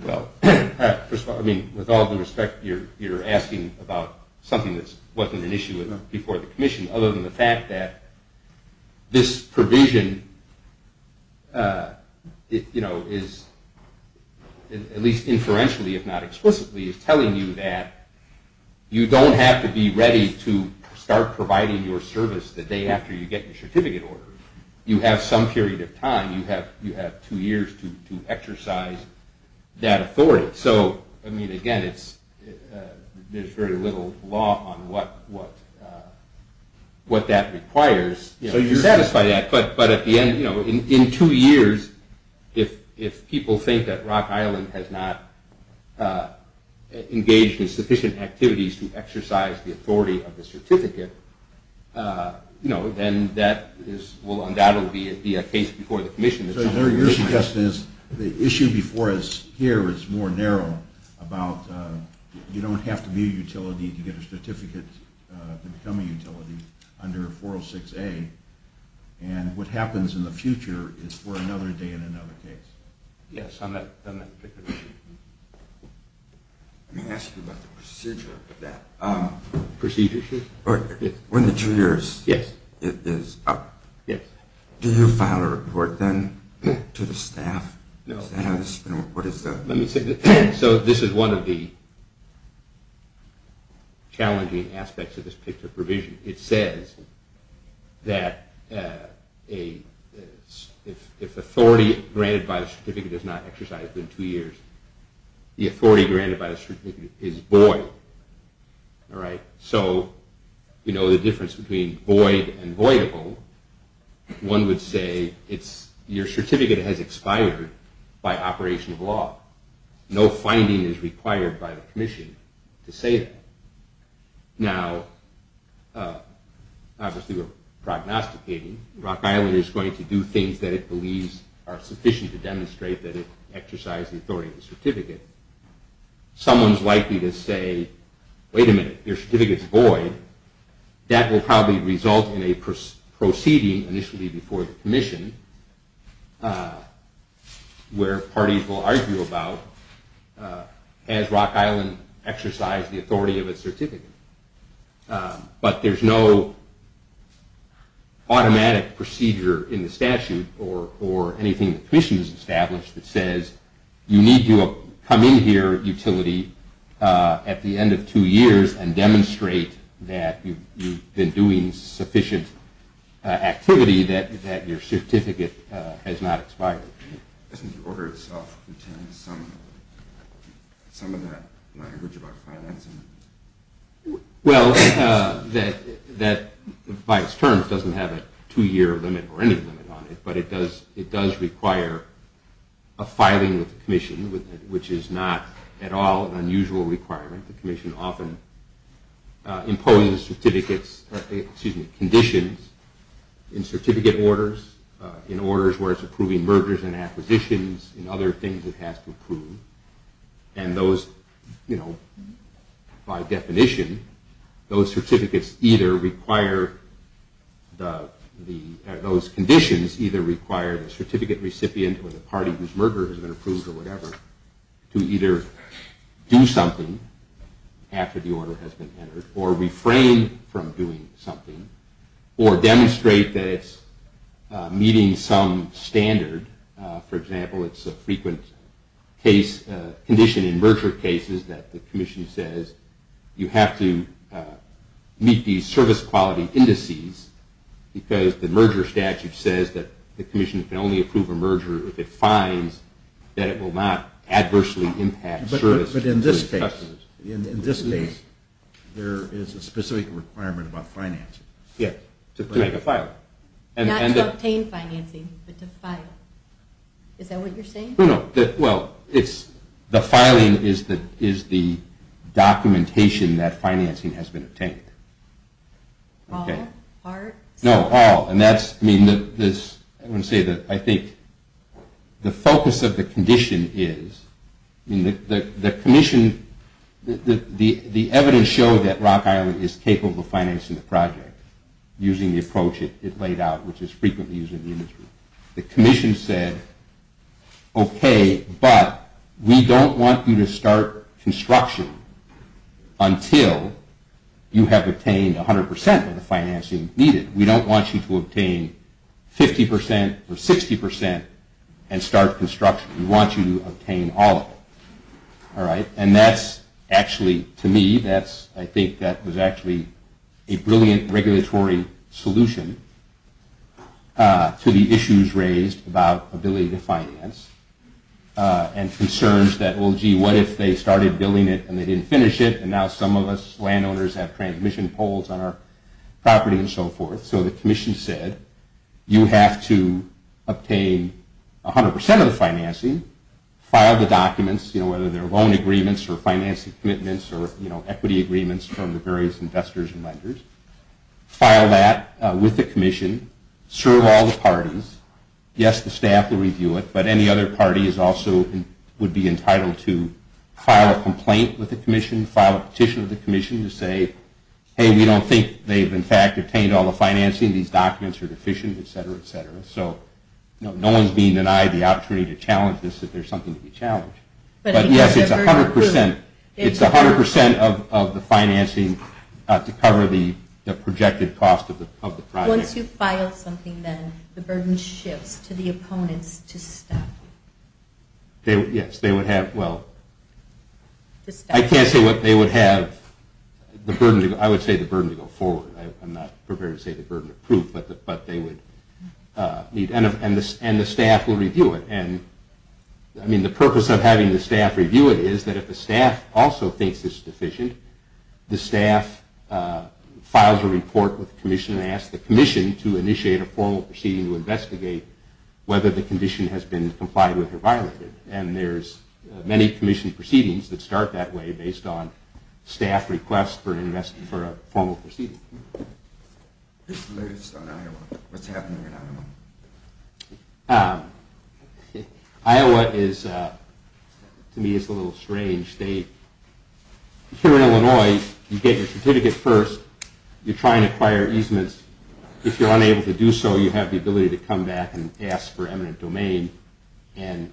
Well, first of all, I mean, with all due respect, you're asking about something that wasn't an issue before the commission, other than the fact that this provision is, at least inferentially if not explicitly, is telling you that you don't have to be ready to start providing your service the day after you get your certificate order. You have some period of time. You have two years to exercise that authority. So, I mean, again, there's very little law on what that requires. So you satisfy that, but at the end, you know, in two years, if people think that Rock Island has not engaged in sufficient activities to exercise the authority of the certificate, you know, then that will undoubtedly be a case before the commission. So your suggestion is the issue before us here is more narrow, about you don't have to be a utility to get a certificate to become a utility under 406A, and what happens in the future is for another day in another case. Yes, on that particular issue. Let me ask you about the procedure for that. Procedure? When the two years is up, do you file a report then to the staff? No. So this is one of the challenging aspects of this particular provision. It says that if authority granted by the certificate is not exercised in two years, the authority granted by the certificate is void. So you know the difference between void and voidable. One would say your certificate has expired by operation of law. No finding is required by the commission to say that. Now, obviously we're prognosticating. Rock Island is going to do things that it believes are sufficient to demonstrate that it exercised the authority of the certificate. Someone is likely to say, wait a minute, your certificate is void. That will probably result in a proceeding initially before the commission where parties will argue about has Rock Island exercised the authority of its certificate. But there's no automatic procedure in the statute or anything the commission has established that says you need to come in here, utility, at the end of two years and demonstrate that you've been doing sufficient activity that your certificate has not expired. Doesn't the order itself contain some of that language about financing? Well, that by its terms doesn't have a two-year limit or any limit on it, but it does require a filing with the commission, which is not at all an unusual requirement. The commission often imposes conditions in certificate orders, in orders where it's approving mergers and acquisitions, and other things it has to approve. And those, you know, by definition, those certificates either require the – those conditions either require the certificate recipient or the party whose merger has been approved or whatever to either do something after the order has been entered or refrain from doing something or demonstrate that it's meeting some standard. For example, it's a frequent case – condition in merger cases that the commission says you have to meet these service quality indices because the merger statute says that the commission can only approve a merger if it finds that it will not adversely impact service. But in this case, in this case, there is a specific requirement about financing. Yes, to make a filing. Not to obtain financing, but to file. Is that what you're saying? No, no. Well, it's – the filing is the documentation that financing has been obtained. All? Parts? No, all. And that's – I mean, this – I want to say that I think the focus of the condition is – I mean, the commission – the evidence showed that Rock Island is capable of financing the project using the approach it laid out, which is frequently using the industry. The commission said, okay, but we don't want you to start construction until you have obtained 100 percent of the financing needed. We don't want you to obtain 50 percent or 60 percent and start construction. We want you to obtain all of it. All right? And that's actually – to me, that's – I think that was actually a brilliant regulatory solution to the issues raised about ability to finance and concerns that, well, gee, what if they started billing it and they didn't finish it, and now some of us landowners have transmission poles on our property and so forth. So the commission said, you have to obtain 100 percent of the financing, file the documents, you know, whether they're loan agreements or financing commitments or, you know, equity agreements from the various investors and lenders, file that with the commission, serve all the parties – yes, the staff will review it, but any other party is also – would be entitled to file a complaint with the commission, file a petition with the commission to say, hey, we don't think they've, in fact, obtained all the financing. These documents are deficient, et cetera, et cetera. So no one's being denied the opportunity to challenge this if there's something to be challenged. But yes, it's 100 percent. It's 100 percent of the financing to cover the projected cost of the project. Once you file something, then the burden shifts to the opponents to stop. Yes, they would have – well, I can't say what they would have. The burden – I would say the burden to go forward. I'm not prepared to say the burden of proof, but they would need – and the staff will review it. And, I mean, the purpose of having the staff review it is that if the staff also thinks it's deficient, the staff files a report with the commission and asks the commission to initiate a formal proceeding to investigate whether the condition has been complied with or violated. And there's many commission proceedings that start that way based on staff requests for a formal proceeding. Iowa is, to me, is a little strange state. Here in Illinois, you get your certificate first. You try and acquire easements. If you're unable to do so, you have the ability to come back and ask for eminent domain. And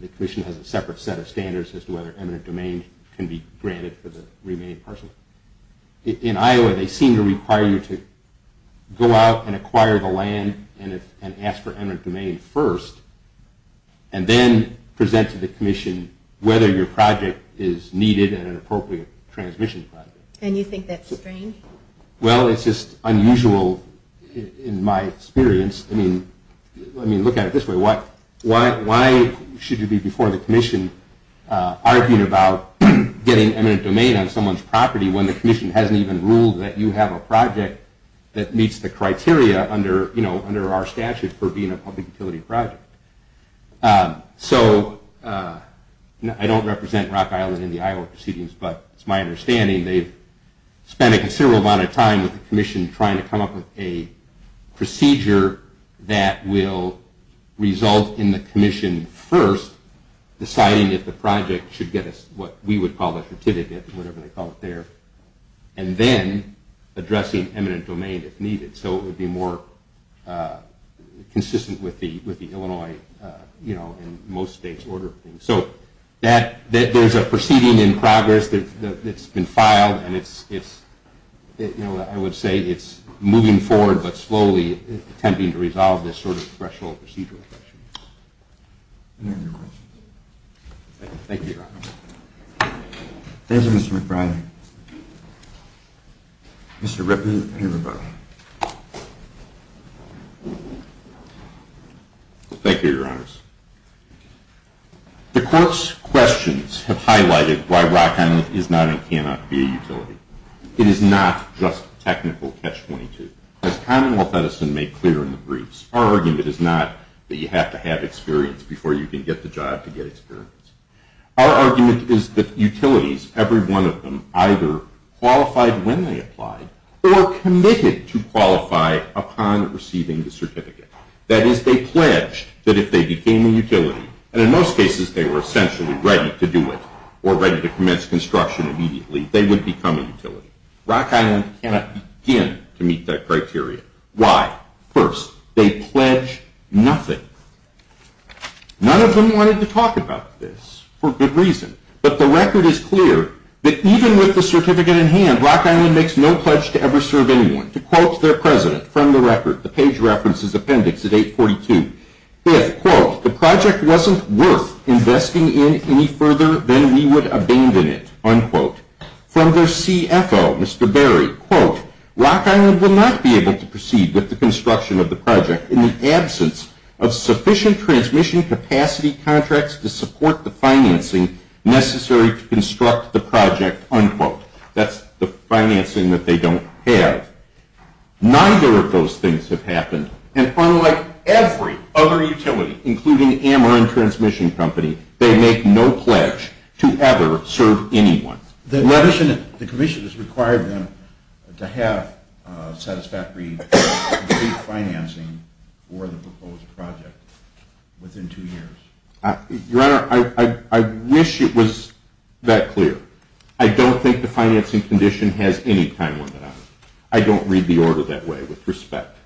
the commission has a separate set of standards as to whether eminent domain can be granted for the remaining parcel. In Iowa, they seem to require you to go out and acquire the land and ask for eminent domain first and then present to the commission whether your project is needed and an appropriate transmission project. And you think that's strange? Well, it's just unusual in my experience. I mean, look at it this way. Why should you be before the commission arguing about getting eminent domain on someone's property when the commission hasn't even ruled that you have a project that meets the criteria under our statute for being a public utility project? So I don't represent Rock Island in the Iowa proceedings, but it's my understanding they've spent a considerable amount of time with the commission trying to come up with a procedure that will result in the commission first deciding if the project should get what we would call a certificate, whatever they call it there, and then addressing eminent domain if needed so it would be more consistent with the Illinois and most states' order of things. So there's a proceeding in progress that's been filed, and I would say it's moving forward, but slowly attempting to resolve this sort of threshold procedure. Any other questions? Thank you, Your Honor. Thank you, Mr. McBride. Mr. Rippey and everybody. Thank you, Your Honors. The court's questions have highlighted why Rock Island is not and cannot be a utility. It is not just technical catch-22. As Commonwealth Edison made clear in the briefs, our argument is not that you have to have experience before you can get the job to get experience. Our argument is that utilities, every one of them, either qualified when they applied or committed to qualify upon receiving the certificate. That is, they pledged that if they became a utility, and in most cases they were essentially ready to do it or ready to commence construction immediately, they would become a utility. Rock Island cannot begin to meet that criteria. Why? First, they pledge nothing. None of them wanted to talk about this for good reason. But the record is clear that even with the certificate in hand, Rock Island makes no pledge to ever serve anyone. To quote their president, from the record, the page references appendix at 842, if, quote, the project wasn't worth investing in any further, then we would abandon it, unquote. From their CFO, Mr. Berry, quote, Rock Island will not be able to proceed with the construction of the project in the absence of sufficient transmission capacity contracts to support the financing necessary to construct the project, unquote. That's the financing that they don't have. Neither of those things have happened. And unlike every other utility, including Ameren Transmission Company, they make no pledge to ever serve anyone. The commission has required them to have satisfactory financing for the proposed project within two years. Your Honor, I wish it was that clear. I don't think the financing condition has any time limit on it. I don't read the order that way with respect.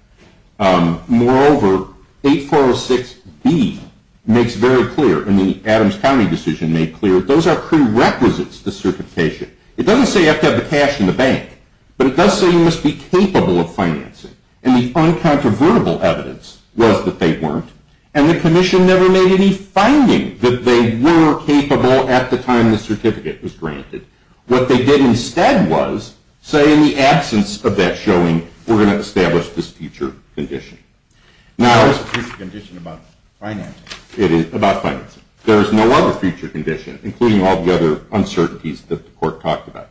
Moreover, 8406B makes very clear, and the Adams County decision made clear, those are prerequisites to certification. It doesn't say you have to have the cash in the bank, but it does say you must be capable of financing. And the uncontroversial evidence was that they weren't. And the commission never made any finding that they were capable at the time the certificate was granted. What they did instead was say, in the absence of that showing, we're going to establish this future condition. Now... It's a future condition about financing. It is about financing. There is no other future condition, including all the other uncertainties that the Court talked about.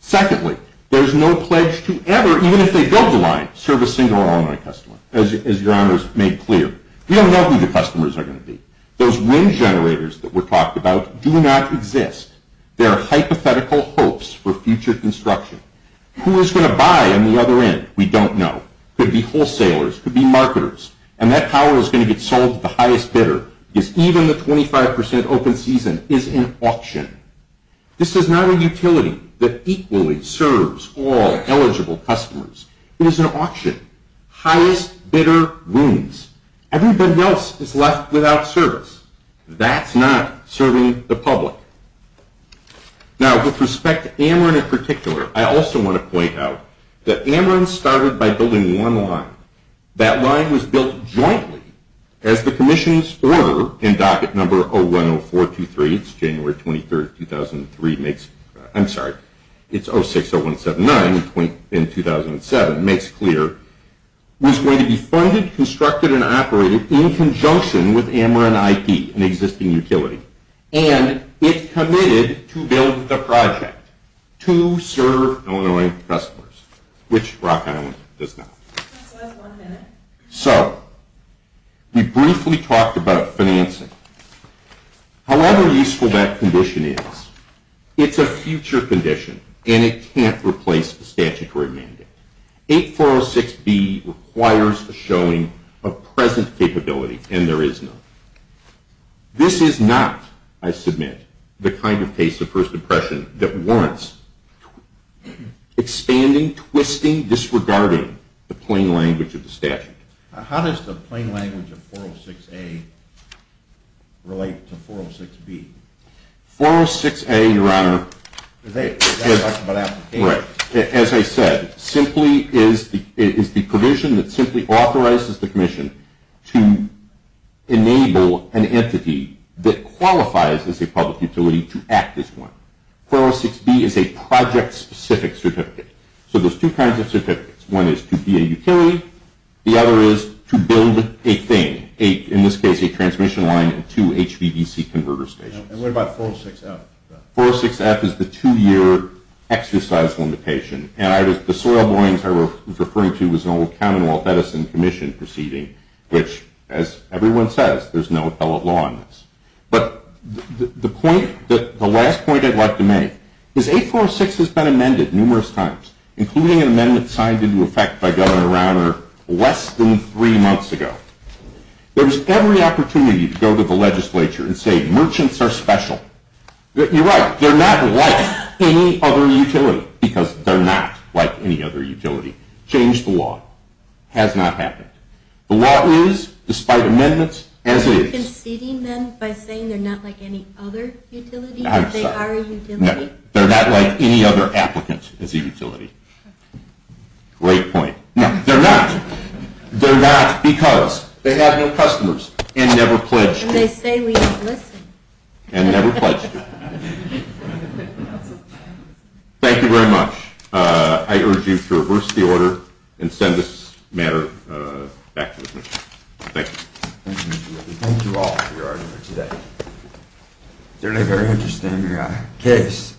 Secondly, there is no pledge to ever, even if they build the line, serve a single or all-in-one customer, as Your Honor has made clear. We don't know who the customers are going to be. Those wind generators that were talked about do not exist. They are hypothetical hopes for future construction. Who is going to buy on the other end? We don't know. It could be wholesalers. It could be marketers. And that power is going to get sold to the highest bidder because even the 25% open season is an auction. This is not a utility that equally serves all eligible customers. It is an auction. Highest bidder wins. Everybody else is left without service. That's not serving the public. Now, with respect to Ameren in particular, I also want to point out that Ameren started by building one line. That line was built jointly as the Commission's order in docket number 010423. It's January 23, 2003. I'm sorry. It's 060179 in 2007. It makes it clear. It was going to be funded, constructed, and operated in conjunction with Ameren IP, an existing utility. And it committed to build the project to serve Illinois customers, which Rock Island does not. So we briefly talked about financing. However useful that condition is, it's a future condition, and it can't replace a statutory mandate. 8406B requires a showing of present capability, and there is none. This is not, I submit, the kind of case of first impression that warrants expanding, twisting, disregarding the plain language of the statute. How does the plain language of 406A relate to 406B? 406A, Your Honor, as I said, simply is the provision that simply authorizes the Commission to enable an entity that qualifies as a public utility to act as one. 406B is a project-specific certificate. So there's two kinds of certificates. One is to be a utility. The other is to build a thing, in this case, a transmission line and two HVDC converter stations. And what about 406F? 406F is the two-year exercise limitation. And the soil borings I was referring to was an old Commonwealth Edison Commission proceeding, which, as everyone says, there's no appellate law on this. But the last point I'd like to make is 846 has been amended numerous times, including an amendment signed into effect by Governor Rauner less than three months ago. There was every opportunity to go to the legislature and say merchants are special. You're right. They're not like any other utility because they're not like any other utility. Change the law. Has not happened. The law is, despite amendments, as it is. Are you conceding then by saying they're not like any other utility because they are a utility? No. They're not like any other applicant as a utility. Great point. No, they're not. They're not because they have no customers and never pledged to. And they say we don't listen. And never pledged to. Thank you very much. I urge you to reverse the order and send this matter back to the commission. Thank you. Thank you. Thank you all for your hard work today. Certainly a very interesting case.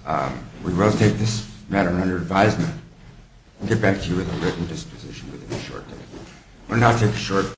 We will take this matter under advisement. We'll get back to you with a written disposition within a short time.